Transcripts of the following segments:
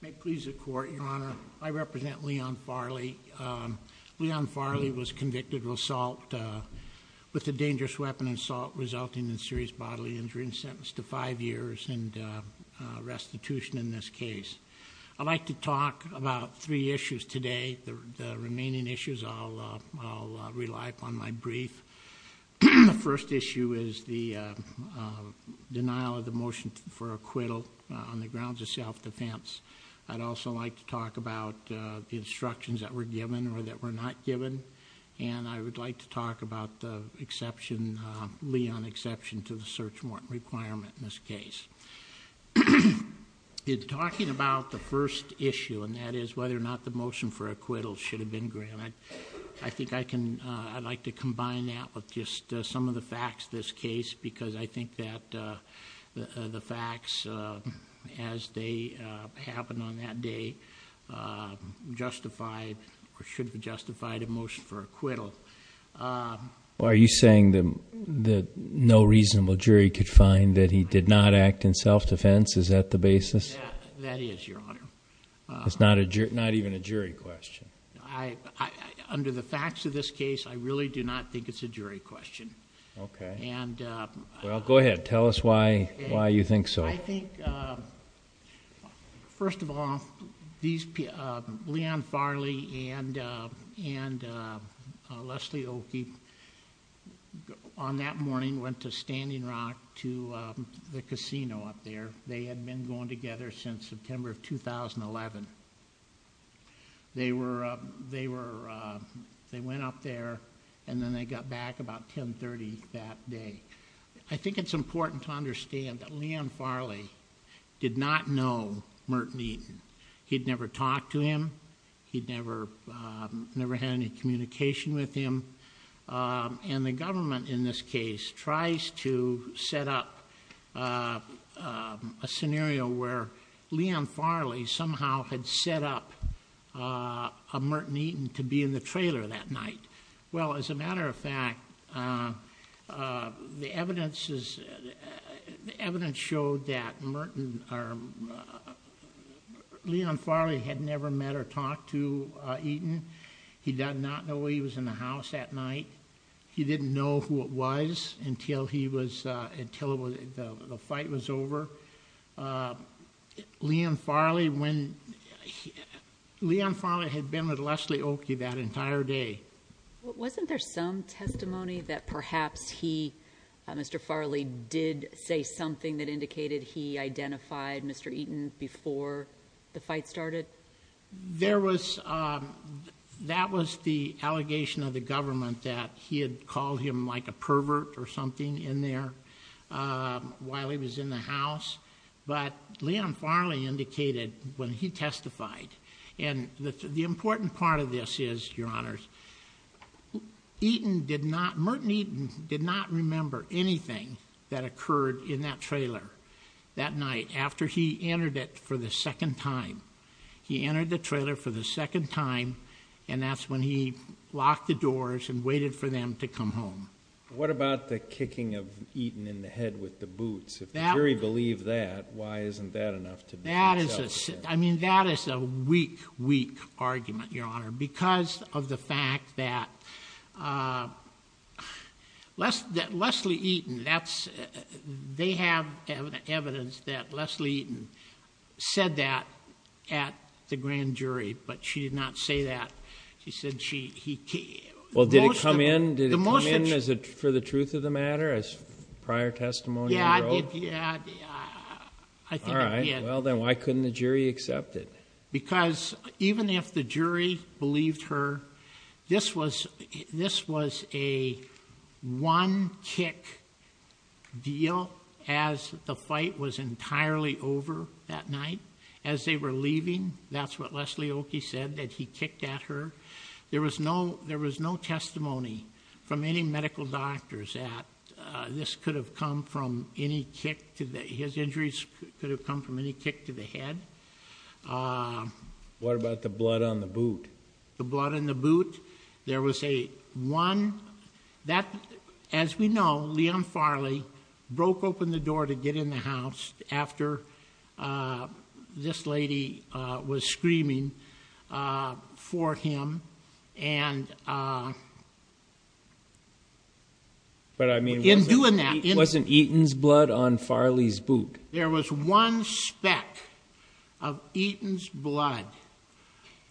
May it please the court, your honor. I represent Leon Farley. Leon Farley was convicted of assault with a dangerous weapon assault resulting in serious bodily injury and sentenced to five years in restitution in this case. I'd like to talk about three issues today. The first issue is the denial of the motion for acquittal on the grounds of self-defense. I'd also like to talk about the instructions that were given or that were not given. And I would like to talk about the exception, Leon exception to the search warrant requirement in this case. In talking about the first issue and that is whether or not the motion for acquittal should have been granted, I think I can, I'd like to combine that with just some of the facts of this case because I think that the facts as they happened on that day justified or should have justified a motion for acquittal. Are you saying that no reasonable jury could find that he did not act in self-defense? Is that the basis? That is, your honor. It's not even a jury question. Under the facts of this case, I really do not think it's a jury question. Okay. Well, go ahead. Tell us why you think so. I think, first of all, Leon Farley and Leslie Oki on that morning went to Standing Rock to the casino up there. They had been going together since September of 2011. They were, they went up there and then they got back about 10.30 that day. I think it's important to understand that Leon Farley did not know Merton Eaton. He'd never talked to him. He'd never, never had any communication with him. And the government in this case tries to set up a scenario where Leon Farley somehow had set up a Merton Eaton to be in the trailer that night. Well, as a matter of fact, the evidence is, the evidence showed that Merton, Leon Farley had never met or talked to Eaton. He did not know he was in the house that night. He didn't know who it was until he was, until the fight was over. Leon Farley, when, Leon Farley had been with Leslie Oki that entire day. Wasn't there some testimony that perhaps he, Mr. Farley, did say something that indicated he identified Mr. Eaton before the fight started? There was, that was the allegation of the government that he had called him like a pervert or something in there while he was in the house. But Leon Farley indicated when he testified, and the important part of this is, Your Honors, Eaton did not, Merton Eaton did not remember anything that occurred in that trailer that night after he entered it for the second time. He entered the trailer for the second time, and that's when he locked the doors and waited for them to come home. What about the kicking of Eaton in the head with the boots? If the jury believed that, why isn't that enough to be held accountable? That is a, I mean, that is a weak, weak argument, Your Honor, because of the fact that Leslie Eaton, that's, they have evidence that Leslie Eaton said that at the grand jury, but she did not say that. She said she, he, most of the... Well, did it come in? Did it come in for the truth of the matter as prior testimony? Yeah, yeah, I think it did. All right. Well, then why couldn't the jury accept it? Because even if the jury believed her, this was, this was a one-kick deal as the fight was entirely over that night. As they were leaving, that's what Leslie Oakey said, that he kicked at her. There was no, there was no testimony from any medical doctors that this could have come from any kick to the, his injuries could have come from any kick to the head. What about the blood on the boot? The blood in the boot. There was a one, that, as we know, Leon Farley broke open the door to get in the house after this lady was screaming for him. And... But, I mean... In doing that... Wasn't Eaton's blood on Farley's boot? There was one speck of Eaton's blood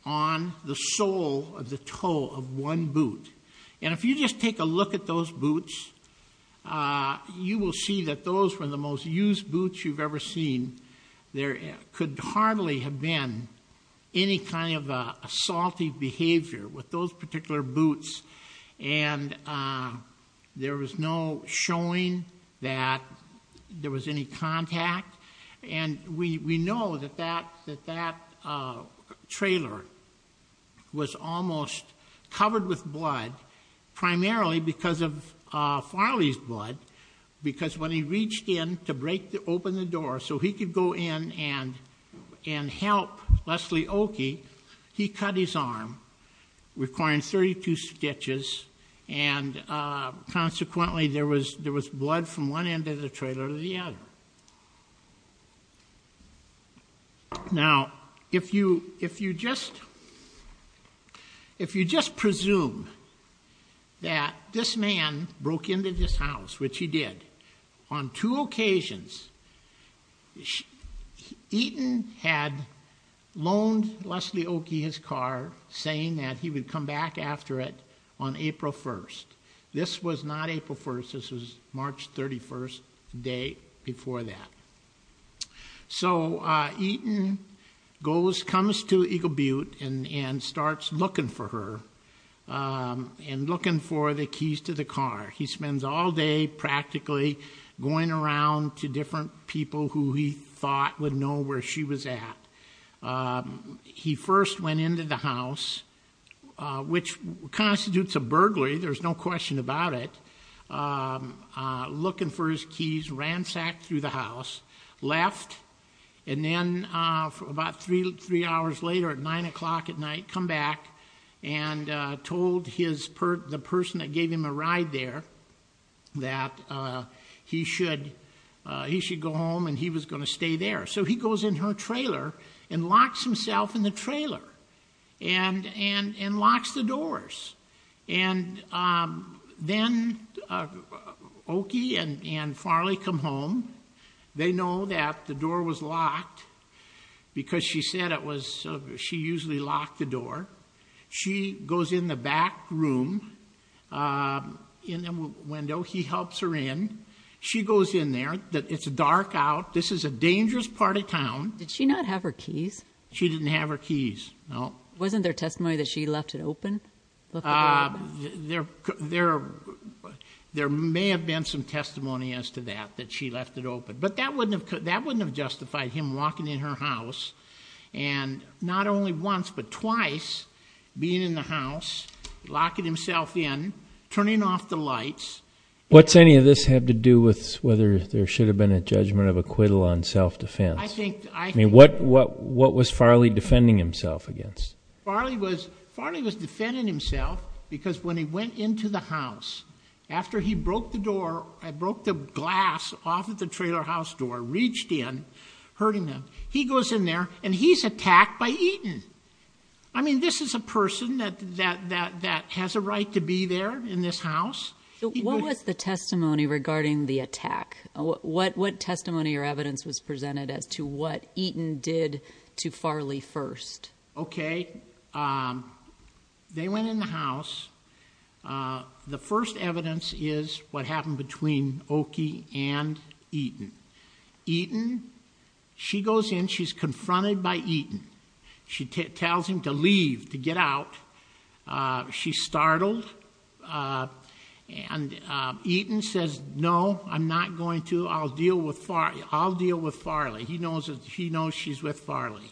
on the sole of the toe of one boot. And if you just take a look at those boots, you will see that those were the most used boots you've ever seen. There could hardly have been any kind of assaultive behavior with those particular boots. And there was no showing that there was any contact. And we know that that trailer was almost covered with blood, primarily because of Farley's blood. Because when he reached in to break open the door so he could go in and help Leslie Oakey, he cut his arm, requiring 32 stitches, and consequently there was blood from one end of the trailer to the other. Now, if you just presume that this man broke into this house, which he did, on two occasions, Eaton had loaned Leslie Oakey his car, saying that he would come back after it on April 1st. This was not April 1st. This was March 31st, the day before that. So, Eaton comes to Eagle Butte and starts looking for her, and looking for the keys to the car. He spends all day practically going around to different people who he thought would know where she was at. He first went into the house, which constitutes a burglary, there's no question about it, looking for his keys, ransacked through the house, left, and then about three hours later at nine o'clock at night, come back and told the person that gave him a ride there that he should go home and he was going to stay there. So he goes in her trailer and locks himself in the trailer and locks the doors. Then Oakey and Farley come home. They know that the door was locked because she said she usually locked the door. She goes in the back room, in the window. He helps her in. She goes in there. It's dark out. This is a dangerous part of town. Did she not have her keys? She didn't have her keys, no. Wasn't there testimony that she left it open? There may have been some testimony as to that, that she left it open. But that wouldn't have justified him walking in her house and not only once but twice being in the house, locking himself in, turning off the lights. What's any of this have to do with whether there should have been a judgment of acquittal on self-defense? I think... I mean, what was Farley defending himself against? Farley was defending himself because when he went into the house, after he broke the glass off of the trailer house door, reached in, hurting him, he goes in there and he's attacked by Eaton. I mean, this is a person that has a right to be there in this house. What was the testimony regarding the attack? What testimony or evidence was presented as to what Eaton did to Farley first? Okay. They went in the house. The first evidence is what happened between Oki and Eaton. Eaton, she goes in, she's confronted by Eaton. She tells him to leave, to get out. She's startled. And Eaton says, no, I'm not going to. I'll deal with Farley. He knows she's with Farley.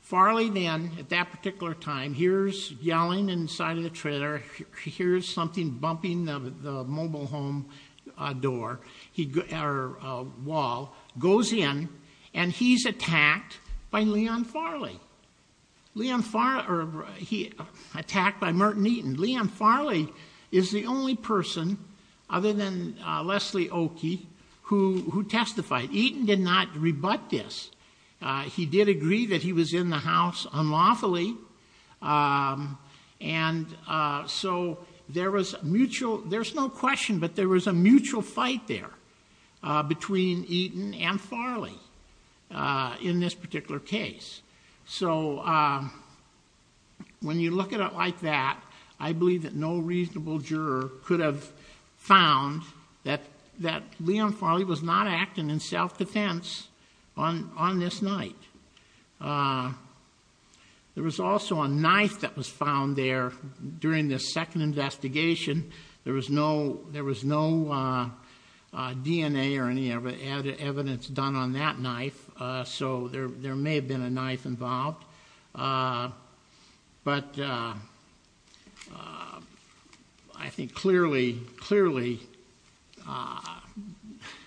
Farley then, at that particular time, hears yelling inside of the trailer, hears something bumping the mobile home door, or wall, goes in and he's attacked by Leon Farley. He's attacked by Merton Eaton. Leon Farley is the only person, other than Leslie Oki, who testified. Eaton did not rebut this. He did agree that he was in the house unlawfully. There's no question, but there was a mutual fight there between Eaton and Farley in this particular case. When you look at it like that, I believe that no reasonable juror could have found that Leon Farley was not acting in self-defense on this night. There was also a knife that was found there during this second investigation. There was no DNA or any evidence done on that knife, so there may have been a knife involved. I think clearly,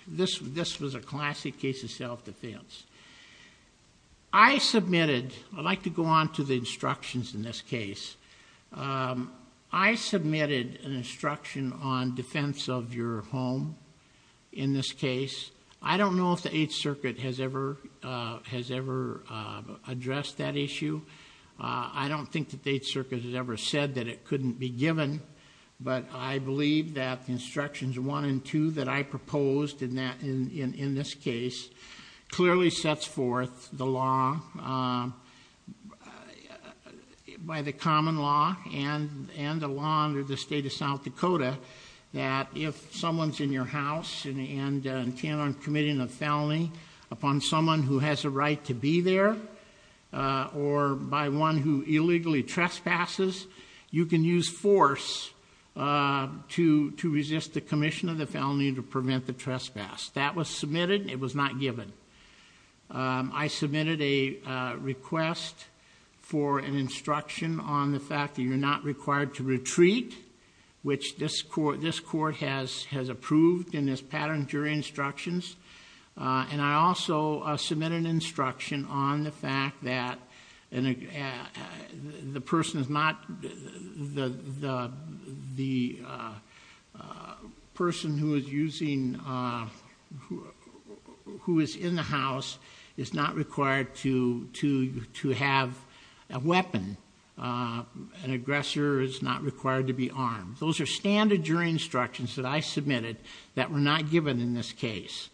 this was a classic case of self-defense. I submitted... I'd like to go on to the instructions in this case. I submitted an instruction on defense of your home in this case. I don't know if the Eighth Circuit has ever addressed that issue. I don't think that the Eighth Circuit has ever said that it couldn't be given, but I believe that the instructions one and two that I proposed in this case clearly sets forth the law by the common law and the law under the state of South Dakota that if someone's in your house and intent on committing a felony upon someone who has a right to be there or by one who illegally trespasses, you can use force to resist the commission of the felony to prevent the trespass. That was submitted. It was not given. I submitted a request for an instruction on the fact that you're not required to retreat, which this court has approved in this pattern during instructions. I also submitted an instruction on the fact that the person who is in the house is not required to have a weapon. An aggressor is not required to be armed. Those are standard jury instructions that I submitted that were not given in this case.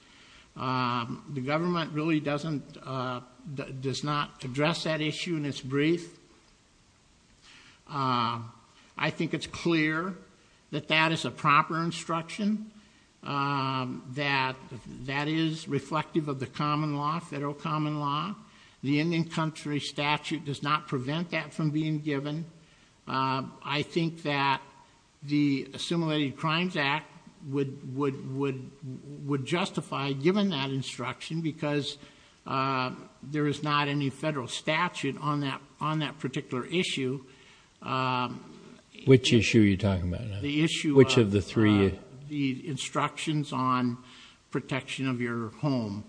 The government really does not address that issue in its brief. I think it's clear that that is a proper instruction, that that is reflective of the common law, federal common law. The Indian country statute does not prevent that from being given. I think that the Assimilated Crimes Act would justify giving that instruction because there is not any federal statute on that particular issue. Which issue are you talking about? The issue of the instructions on protection of your home.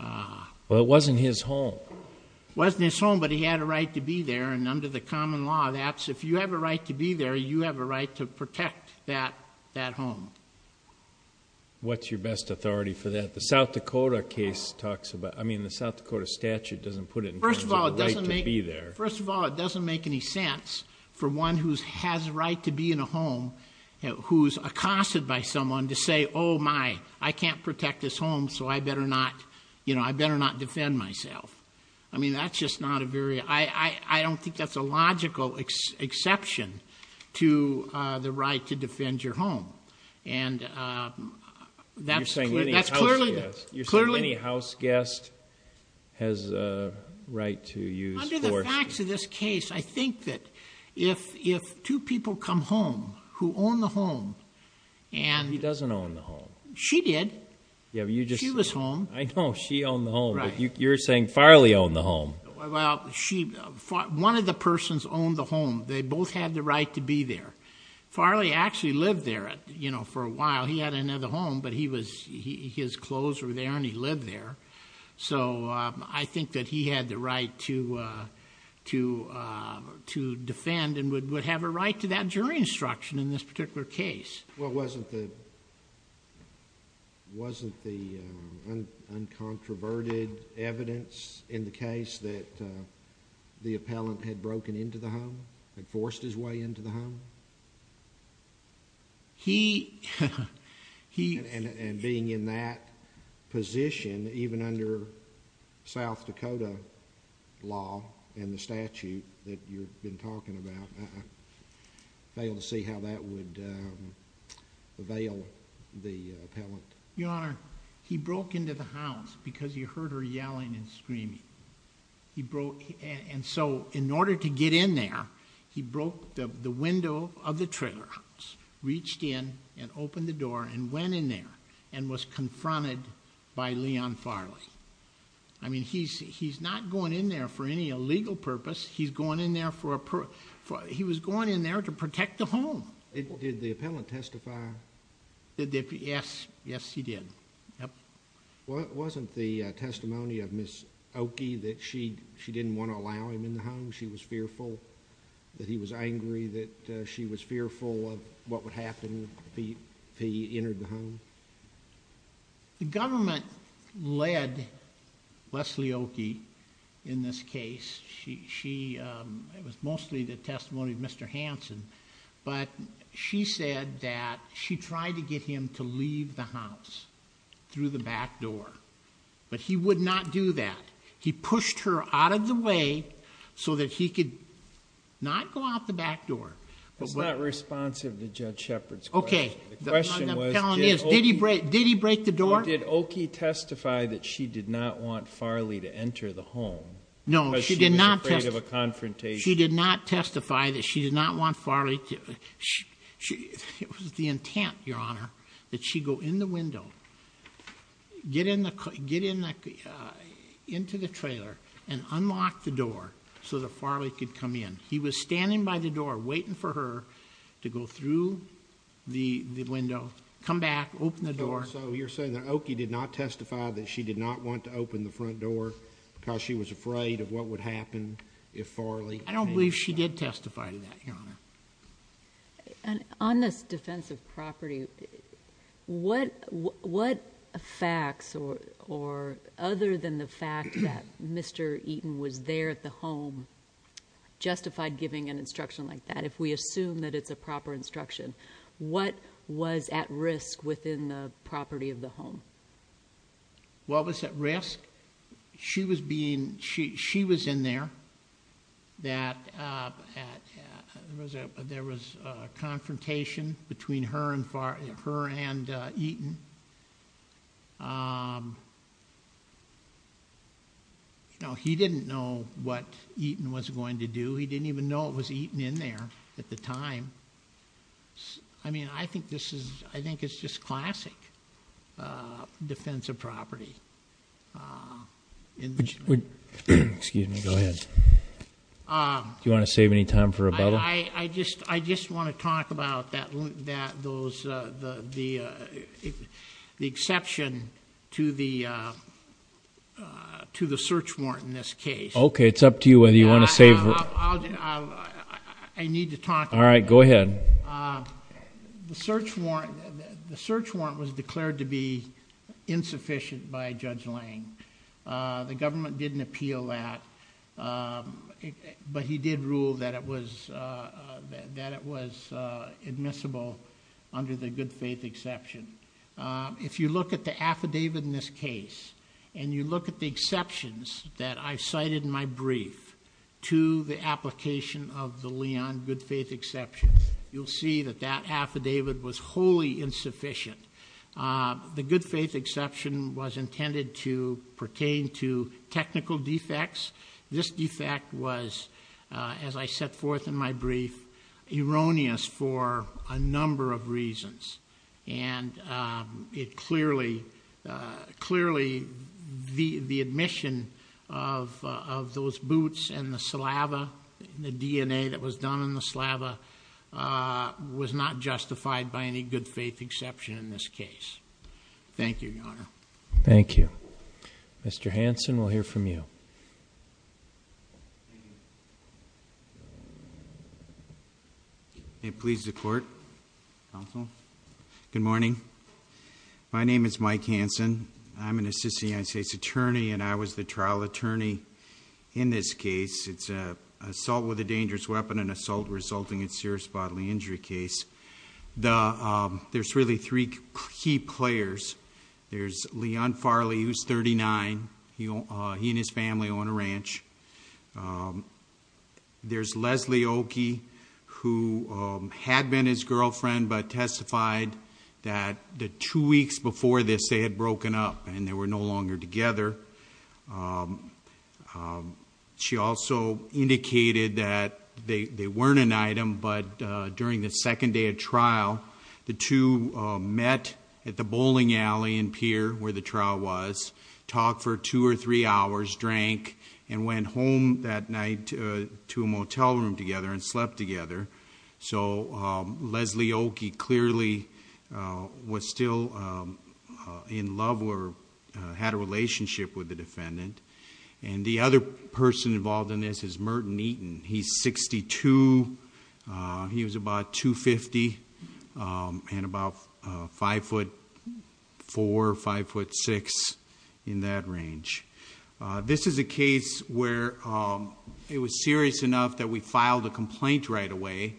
Well, it wasn't his home. It wasn't his home, but he had a right to be there. Under the common law, if you have a right to be there, you have a right to protect that home. What's your best authority for that? The South Dakota statute doesn't put it in terms of the right to be there. First of all, it doesn't make any sense for one who has a right to be in a home, who's accosted by someone, to say, oh my, I can't protect this home, so I better not defend myself. I don't think that's a logical exception to the right to defend your home. You're saying any house guest has a right to use force. Under the facts of this case, I think that if two people come home who own the home. He doesn't own the home. She did. She was home. I know, she owned the home, but you're saying Farley owned the home. Well, one of the persons owned the home. They both had the right to be there. Farley actually lived there for a while. He had another home, but his clothes were there and he lived there. I think that he had the right to defend and would have a right to that jury instruction in this particular case. Wasn't the uncontroverted evidence in the case that the appellant had broken into the home, had forced his way into the home? Being in that position, even under South Dakota law and the statute that you've been talking about, I fail to see how that would avail the appellant. Your Honor, he broke into the house because he heard her yelling and screaming. In order to get in there, he broke the window of the trailer house, reached in and opened the door and went in there and was confronted by Leon Farley. He's not going in there for any illegal purpose. He was going in there to protect the home. Did the appellant testify? Yes, he did. Wasn't the testimony of Ms. Oakey that she didn't want to allow him in the home? She was fearful that he was angry, that she was fearful of what would happen if he entered the home? The government led Leslie Oakey in this case. It was mostly the testimony of Mr. Hanson. She said that she tried to get him to leave the house through the back door, but he would not do that. He pushed her out of the way so that he could not go out the back door. That's not responsive to Judge Shepard's question. The question was, did Oakey testify that she did not want Farley to enter the home because she was afraid of a confrontation? She did not testify that she did not want Farley to, it was the intent, Your Honor, that she go in the window, get into the trailer and unlock the door so that Farley could come in. He was standing by the door waiting for her to go through the window, come back, open the door. So you're saying that Oakey did not testify that she did not want to open the front door because she was afraid of what would happen if Farley came in? I don't believe she did testify to that, Your Honor. On this defense of property, what facts or other than the fact that Mr. Eaton was there at the home justified giving an instruction like that if we assume that it's a proper instruction? What was at risk within the property of the home? What was at risk? She was in there. There was a confrontation between her and Eaton. He didn't know what Eaton was going to do. He didn't even know it was Eaton in there at the time. I mean, I think it's just classic defense of property. Excuse me. Go ahead. Do you want to save any time for rebuttal? I just want to talk about the exception to the search warrant in this case. Okay. It's up to you whether you want to save. I need to talk about that. All right. Go ahead. The search warrant was declared to be insufficient by Judge Lang. The government didn't appeal that, but he did rule that it was admissible under the good faith exception. If you look at the affidavit in this case and you look at the exceptions that I cited in my brief to the application of the Leon good faith exception, you'll see that that affidavit was wholly insufficient. The good faith exception was intended to pertain to technical defects. This defect was, as I set forth in my brief, erroneous for a number of reasons. Clearly, the admission of those boots and the saliva, the DNA that was done in the saliva, was not justified by any good faith exception in this case. Thank you, Your Honor. Thank you. Mr. Hanson, we'll hear from you. Thank you. May it please the court, counsel. Good morning. My name is Mike Hanson. I'm an assistant United States attorney, and I was the trial attorney in this case. It's an assault with a dangerous weapon, an assault resulting in serious bodily injury case. There's really three key players. There's Leon Farley, who's 39. He and his family own a ranch. There's Leslie Oki, who had been his girlfriend but testified that the two weeks before this, they had broken up and they were no longer together. She also indicated that they weren't an item, but during the second day of trial, the two met at the bowling alley and pier where the trial was, talked for two or three hours, drank, and went home that night to a motel room together and slept together. So Leslie Oki clearly was still in love or had a relationship with the defendant. And the other person involved in this is Merton Eaton. He's 62. He was about 250 and about 5'4", 5'6", in that range. This is a case where it was serious enough that we filed a complaint right away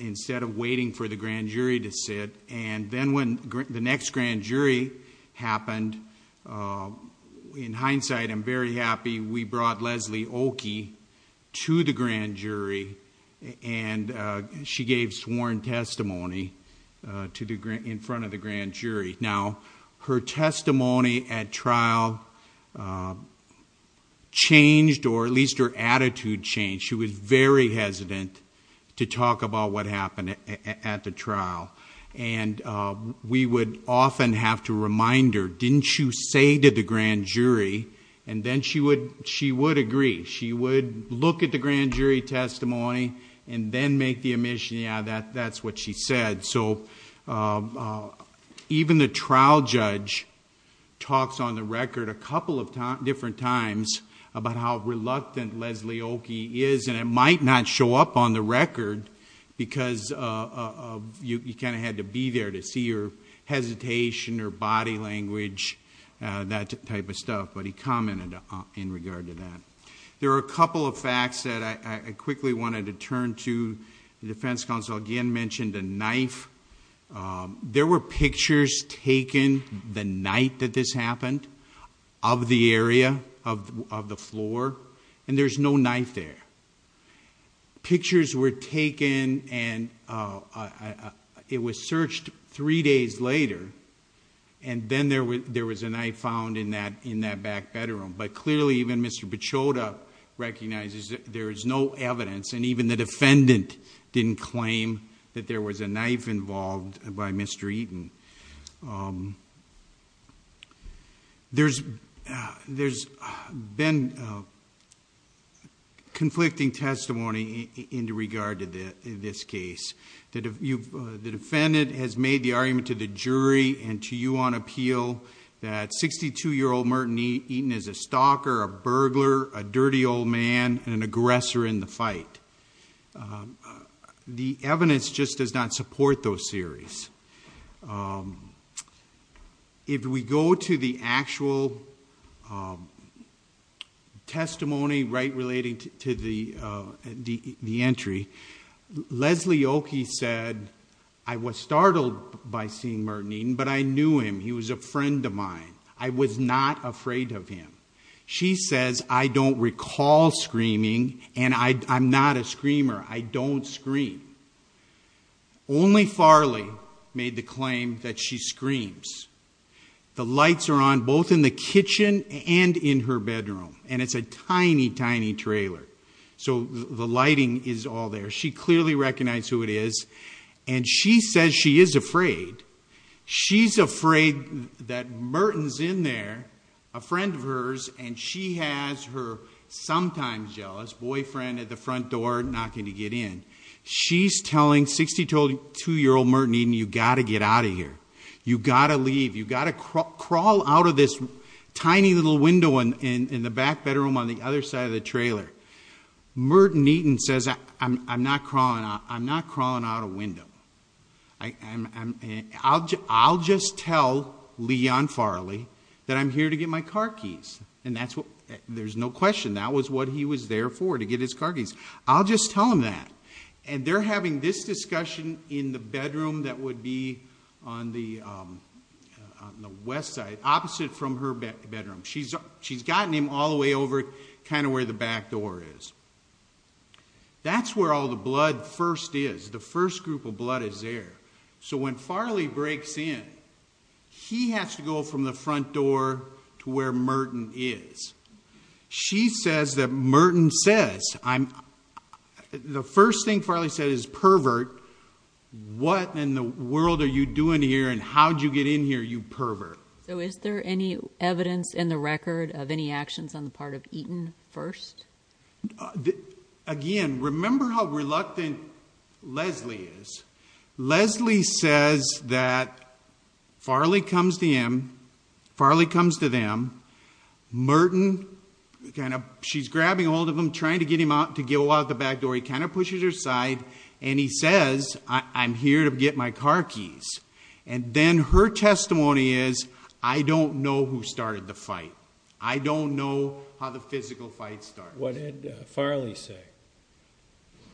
instead of waiting for the grand jury to sit, and then when the next grand jury happened, in hindsight, I'm very happy we brought Leslie Oki to the grand jury, and she gave sworn testimony in front of the grand jury. Now, her testimony at trial changed, or at least her attitude changed. She was very hesitant to talk about what happened at the trial, and we would often have to remind her, didn't you say to the grand jury? And then she would agree. She would look at the grand jury testimony and then make the admission, yeah, that's what she said. So even the trial judge talks on the record a couple of different times about how reluctant Leslie Oki is, and it might not show up on the record because you kind of had to be there to see her hesitation or body language, that type of stuff, but he commented in regard to that. There are a couple of facts that I quickly wanted to turn to. The defense counsel again mentioned a knife. There were pictures taken the night that this happened of the area, of the floor, and there's no knife there. Pictures were taken, and it was searched three days later, and then there was a knife found in that back bedroom, but clearly even Mr. Pechota recognizes that there is no evidence, and even the defendant didn't claim that there was a knife involved by Mr. Eaton. There's been conflicting testimony in regard to this case. The defendant has made the argument to the jury and to you on appeal that 62-year-old Merton Eaton is a stalker, a burglar, a dirty old man, and an aggressor in the fight. The evidence just does not support those theories. If we go to the actual testimony right relating to the entry, Leslie Oakey said, I was startled by seeing Merton Eaton, but I knew him. He was a friend of mine. I was not afraid of him. She says, I don't recall screaming, and I'm not a screamer. I don't scream. Only Farley made the claim that she screams. The lights are on both in the kitchen and in her bedroom, and it's a tiny, tiny trailer, so the lighting is all there. She clearly recognized who it is, and she says she is afraid. She's afraid that Merton's in there, a friend of hers, and she has her sometimes jealous boyfriend at the front door knocking to get in. She's telling 62-year-old Merton Eaton, you've got to get out of here. You've got to leave. You've got to crawl out of this tiny little window in the back bedroom on the other side of the trailer. Merton Eaton says, I'm not crawling out a window. I'll just tell Leon Farley that I'm here to get my car keys, and there's no question. That was what he was there for, to get his car keys. I'll just tell him that, and they're having this discussion in the bedroom that would be on the west side, opposite from her bedroom. She's gotten him all the way over kind of where the back door is. That's where all the blood first is. The first group of blood is there. So when Farley breaks in, he has to go from the front door to where Merton is. She says that Merton says, the first thing Farley said is pervert. What in the world are you doing here, and how did you get in here, you pervert? So is there any evidence in the record of any actions on the part of Eaton first? Again, remember how reluctant Leslie is. Leslie says that Farley comes to him. Farley comes to them. Merton, she's grabbing hold of him, trying to get him out to go out the back door. He kind of pushes her aside, and he says, I'm here to get my car keys. And then her testimony is, I don't know who started the fight. I don't know how the physical fight started. What did Farley say?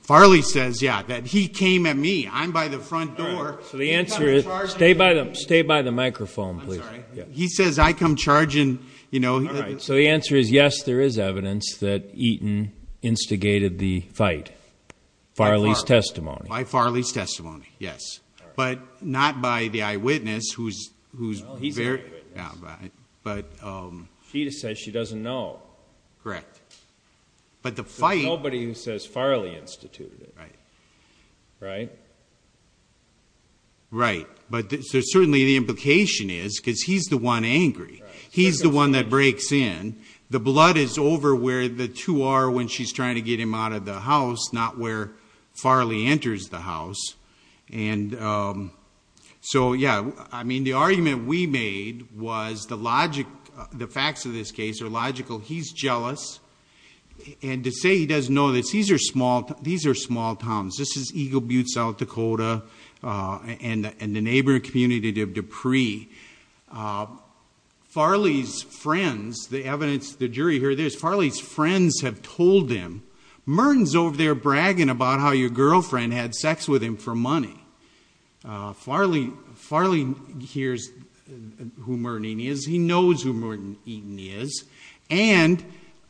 Farley says, yeah, that he came at me. I'm by the front door. Stay by the microphone, please. He says, I come charging. So the answer is, yes, there is evidence that Eaton instigated the fight. Farley's testimony. By Farley's testimony, yes. But not by the eyewitness. He's the eyewitness. She just says she doesn't know. Correct. But the fight. There's nobody who says Farley instituted it. Right. Right? Right. But certainly the implication is, because he's the one angry. He's the one that breaks in. The blood is over where the two are when she's trying to get him out of the house, not where Farley enters the house. And so, yeah, I mean, the argument we made was the logic, the facts of this case are logical. He's jealous. And to say he doesn't know this, these are small towns. This is Eagle Butte, South Dakota, and the neighboring community of Dupree. Farley's friends, the evidence, the jury heard this. Farley's friends have told him, Merton's over there bragging about how your girlfriend had sex with him for money. Farley hears who Merton Eaton is. He knows who Merton Eaton is. And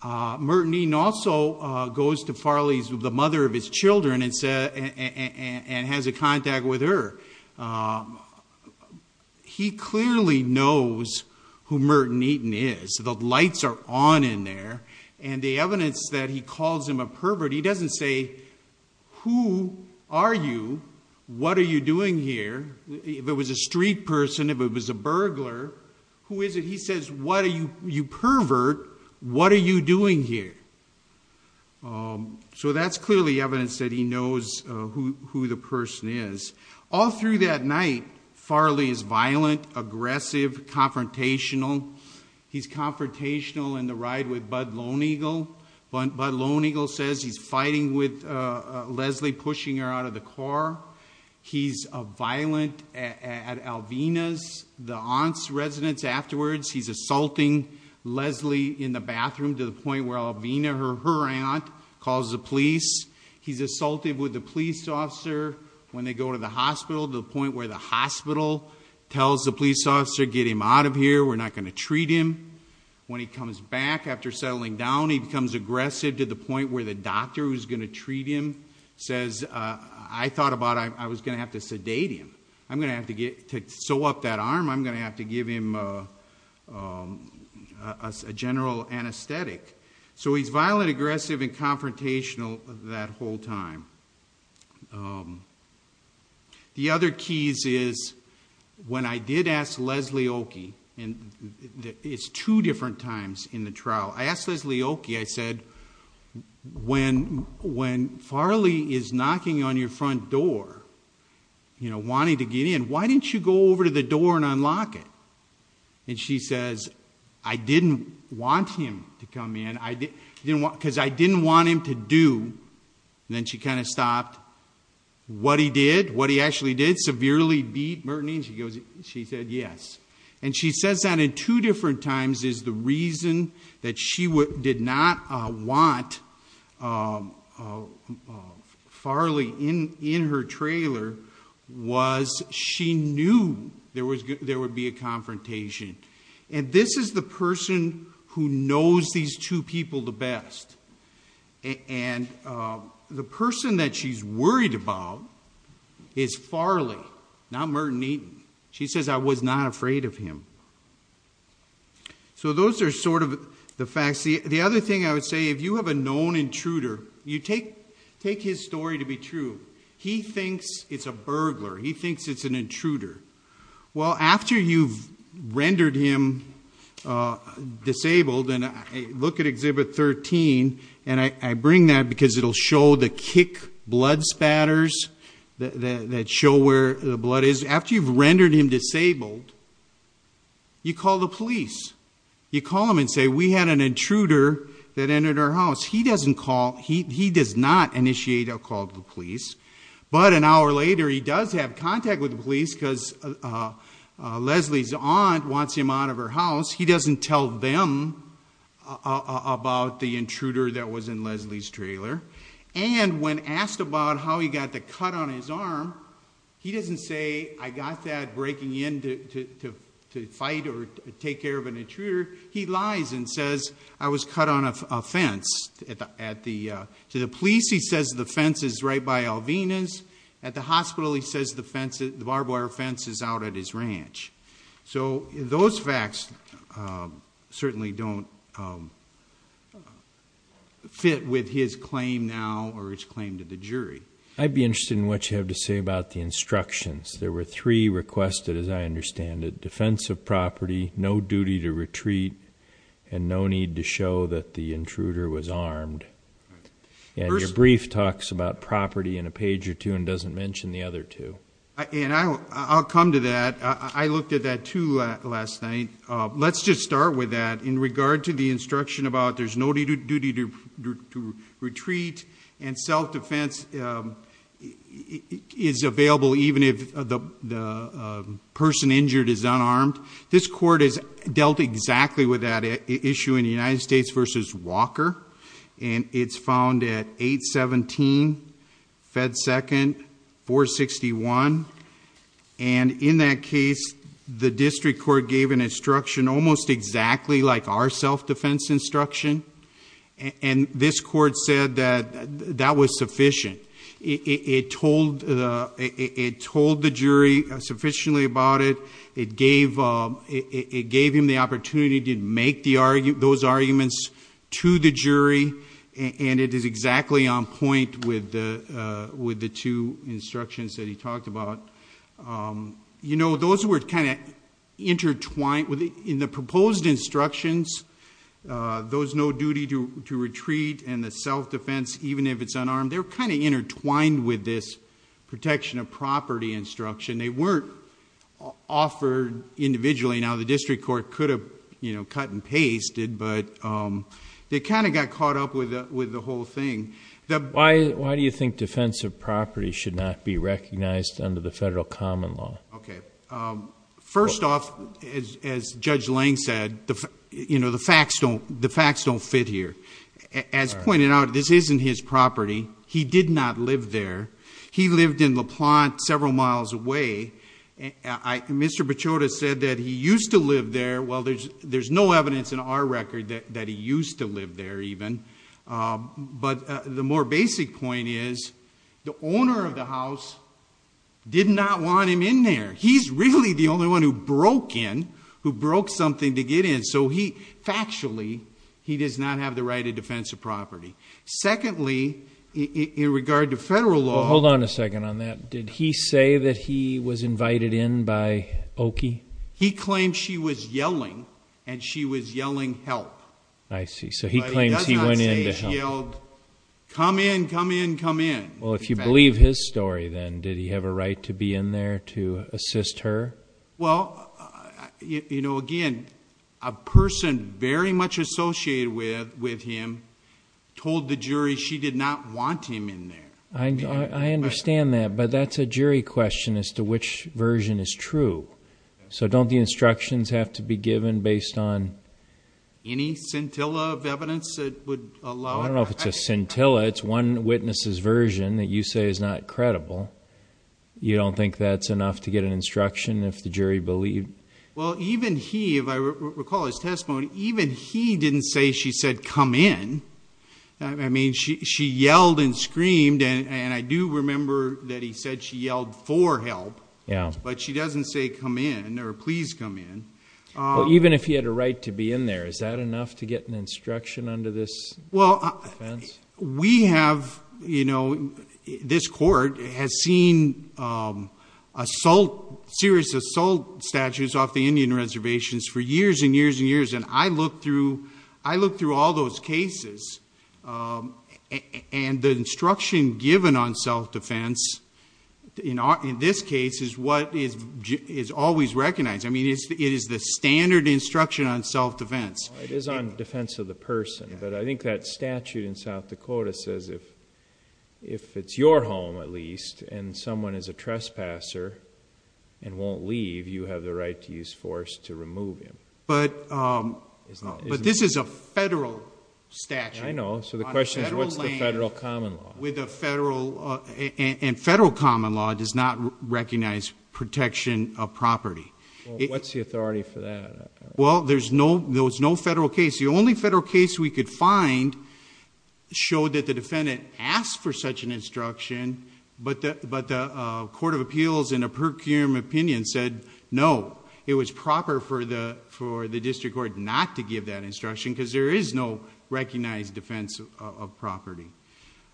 Merton Eaton also goes to Farley, the mother of his children, and has a contact with her. He clearly knows who Merton Eaton is. The lights are on in there. And the evidence that he calls him a pervert, he doesn't say, Who are you? What are you doing here? If it was a street person, if it was a burglar, who is it? He says, You pervert, what are you doing here? So that's clearly evidence that he knows who the person is. All through that night, Farley is violent, aggressive, confrontational. He's confrontational in the ride with Bud Lone Eagle. Bud Lone Eagle says he's fighting with Leslie, pushing her out of the car. He's violent at Alvina's, the aunt's residence afterwards. He's assaulting Leslie in the bathroom to the point where Alvina, her aunt, calls the police. He's assaulted with the police officer when they go to the hospital, to the point where the hospital tells the police officer, Get him out of here. We're not going to treat him. When he comes back after settling down, he becomes aggressive to the point where the doctor who's going to treat him says, I thought about I was going to have to sedate him. I'm going to have to sew up that arm. I'm going to have to give him a general anesthetic. So he's violent, aggressive, and confrontational that whole time. The other keys is when I did ask Leslie Oakey, and it's two different times in the trial, I asked Leslie Oakey, I said, When Farley is knocking on your front door, you know, wanting to get in, why didn't you go over to the door and unlock it? And she says, I didn't want him to come in, because I didn't want him to do. And then she kind of stopped. What he did, what he actually did, severely beat Mertini? She said, Yes. And she says that in two different times is the reason that she did not want Farley in her trailer was she knew there would be a confrontation. And this is the person who knows these two people the best. And the person that she's worried about is Farley, not Mertini. She says, I was not afraid of him. So those are sort of the facts. The other thing I would say, if you have a known intruder, you take his story to be true. He thinks it's a burglar. He thinks it's an intruder. Well, after you've rendered him disabled, and look at Exhibit 13, and I bring that because it will show the kick blood spatters that show where the blood is. After you've rendered him disabled, you call the police. You call them and say, We had an intruder that entered our house. He doesn't call. He does not initiate a call to the police. But an hour later, he does have contact with the police because Leslie's aunt wants him out of her house. He doesn't tell them about the intruder that was in Leslie's trailer. And when asked about how he got the cut on his arm, he doesn't say, I got that breaking in to fight or take care of an intruder. To the police he says the fence is right by Alvina's. At the hospital he says the barbed wire fence is out at his ranch. So those facts certainly don't fit with his claim now or his claim to the jury. I'd be interested in what you have to say about the instructions. There were three requested, as I understand it, defense of property, no duty to retreat, and no need to show that the intruder was armed. And your brief talks about property in a page or two and doesn't mention the other two. I'll come to that. I looked at that too last night. Let's just start with that. In regard to the instruction about there's no duty to retreat and self-defense is available even if the person injured is unarmed, this court has dealt exactly with that issue in United States v. Walker. And it's found at 817 Fed Second 461. And in that case the district court gave an instruction almost exactly like our self-defense instruction. And this court said that that was sufficient. It told the jury sufficiently about it. It gave him the opportunity to make those arguments to the jury. And it is exactly on point with the two instructions that he talked about. You know, those were kind of intertwined. In the proposed instructions, those no duty to retreat and the self-defense even if it's unarmed, they're kind of intertwined with this protection of property instruction. They weren't offered individually. Now the district court could have cut and pasted, but they kind of got caught up with the whole thing. Why do you think defensive property should not be recognized under the federal common law? First off, as Judge Lang said, the facts don't fit here. As pointed out, this isn't his property. He did not live there. He lived in LaPlante several miles away. Mr. Pechota said that he used to live there. Well, there's no evidence in our record that he used to live there even. But the more basic point is the owner of the house did not want him in there. He's really the only one who broke in, who broke something to get in. So factually he does not have the right of defensive property. Secondly, in regard to federal law. Hold on a second on that. Did he say that he was invited in by Oki? He claimed she was yelling and she was yelling help. I see. So he claims he went in to help. But he does not say he yelled, come in, come in, come in. Well, if you believe his story, then, did he have a right to be in there to assist her? Well, again, a person very much associated with him told the jury she did not want him in there. I understand that. But that's a jury question as to which version is true. So don't the instructions have to be given based on any scintilla of evidence that would allow it? I don't know if it's a scintilla. It's one witness's version that you say is not credible. You don't think that's enough to get an instruction if the jury believed? Well, even he, if I recall his testimony, even he didn't say she said come in. I mean, she yelled and screamed, and I do remember that he said she yelled for help. Yeah. But she doesn't say come in or please come in. Even if he had a right to be in there, is that enough to get an instruction under this defense? We have, you know, this court has seen assault, serious assault statutes off the Indian reservations for years and years and years, and I looked through all those cases, and the instruction given on self-defense, in this case, is what is always recognized. I mean, it is the standard instruction on self-defense. It is on defense of the person, but I think that statute in South Dakota says if it's your home at least and someone is a trespasser and won't leave, you have the right to use force to remove him. But this is a federal statute. I know. So the question is what's the federal common law? And federal common law does not recognize protection of property. Well, what's the authority for that? Well, there's no federal case. The only federal case we could find showed that the defendant asked for such an instruction, but the court of appeals in a per curiam opinion said no. It was proper for the district court not to give that instruction because there is no recognized defense of property.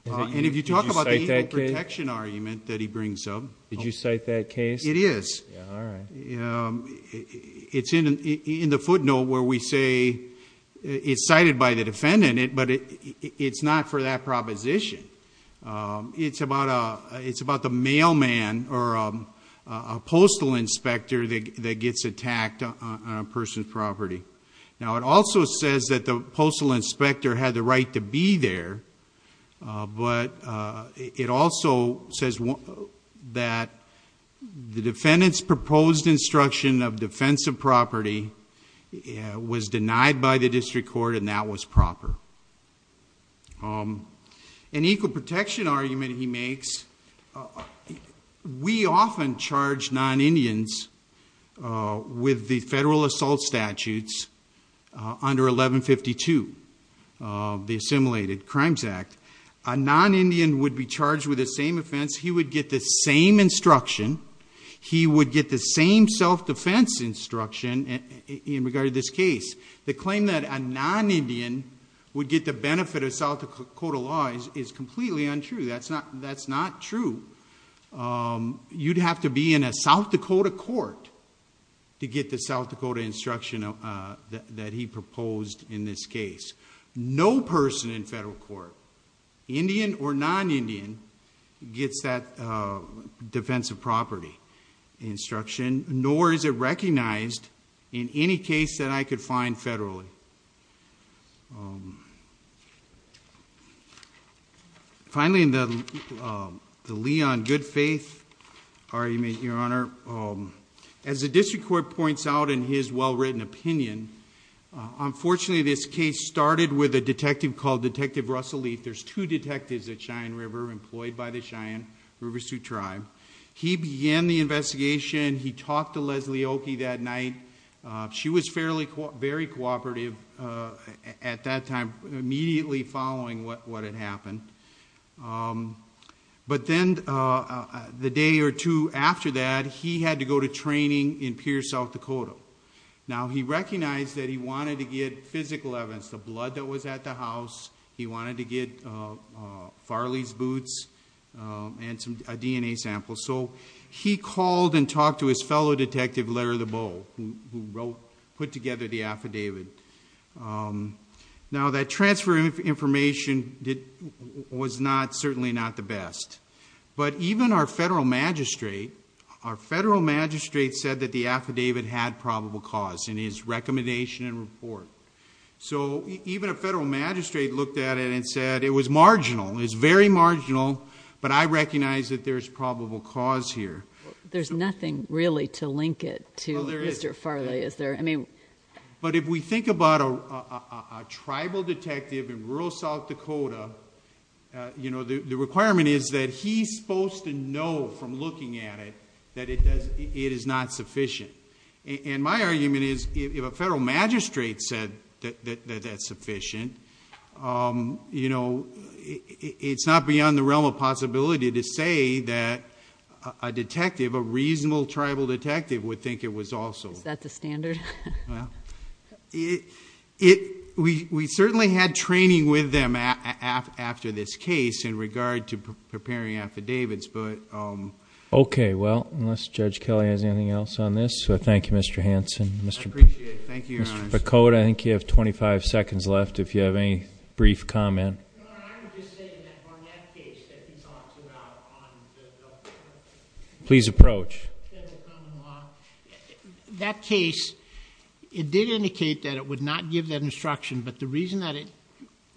And if you talk about the evil protection argument that he brings up. It is. Yeah, all right. It's in the footnote where we say it's cited by the defendant, but it's not for that proposition. It's about the mailman or a postal inspector that gets attacked on a person's property. Now, it also says that the postal inspector had the right to be there, but it also says that the defendant's proposed instruction of defense of property was denied by the district court and that was proper. An equal protection argument he makes, we often charge non-Indians with the federal assault statutes under 1152, the Assimilated Crimes Act. A non-Indian would be charged with the same offense. He would get the same instruction. He would get the same self-defense instruction in regard to this case. The claim that a non-Indian would get the benefit of South Dakota law is completely untrue. That's not true. You'd have to be in a South Dakota court to get the South Dakota instruction that he proposed in this case. No person in federal court, Indian or non-Indian, gets that defense of property instruction, nor is it recognized in any case that I could find federally. Finally, the Lee on good faith argument, Your Honor. As the district court points out in his well-written opinion, unfortunately this case started with a detective called Detective Russell Lee. There's two detectives at Cheyenne River employed by the Cheyenne River Sioux Tribe. He began the investigation. He talked to Leslie Oakey that night. She was very cooperative. At that time, immediately following what had happened. But then the day or two after that, he had to go to training in Pierce, South Dakota. Now, he recognized that he wanted to get physical evidence, the blood that was at the house. He wanted to get Farley's boots and a DNA sample. So he called and talked to his fellow detective, Larry Lebow, who put together the affidavit. Now, that transfer of information was certainly not the best. But even our federal magistrate said that the affidavit had probable cause in his recommendation and report. So even a federal magistrate looked at it and said it was marginal. It's very marginal, but I recognize that there's probable cause here. There's nothing really to link it to Mr. Farley, is there? But if we think about a tribal detective in rural South Dakota, the requirement is that he's supposed to know from looking at it that it is not sufficient. And my argument is if a federal magistrate said that that's sufficient, you know, it's not beyond the realm of possibility to say that a detective, a reasonable tribal detective, would think it was also. Is that the standard? We certainly had training with them after this case in regard to preparing affidavits, but... Okay. Well, unless Judge Kelly has anything else on this. Thank you, Mr. Hanson. I appreciate it. Thank you, Your Honor. Mr. Picotta, I think you have 25 seconds left if you have any brief comment. Your Honor, I would just say that on that case that he talks about on the... Please approach.... that's a common law. That case, it did indicate that it would not give that instruction, but the reason that it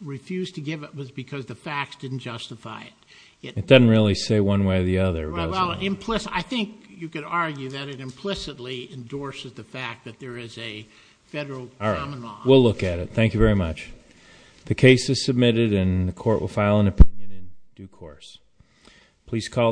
refused to give it was because the facts didn't justify it. It doesn't really say one way or the other, does it? Well, implicitly, I think you could argue that it implicitly endorses the fact that there is a federal common law... All right. We'll look at it. Thank you very much. The case is submitted and the court will file an opinion in due course. Please call the...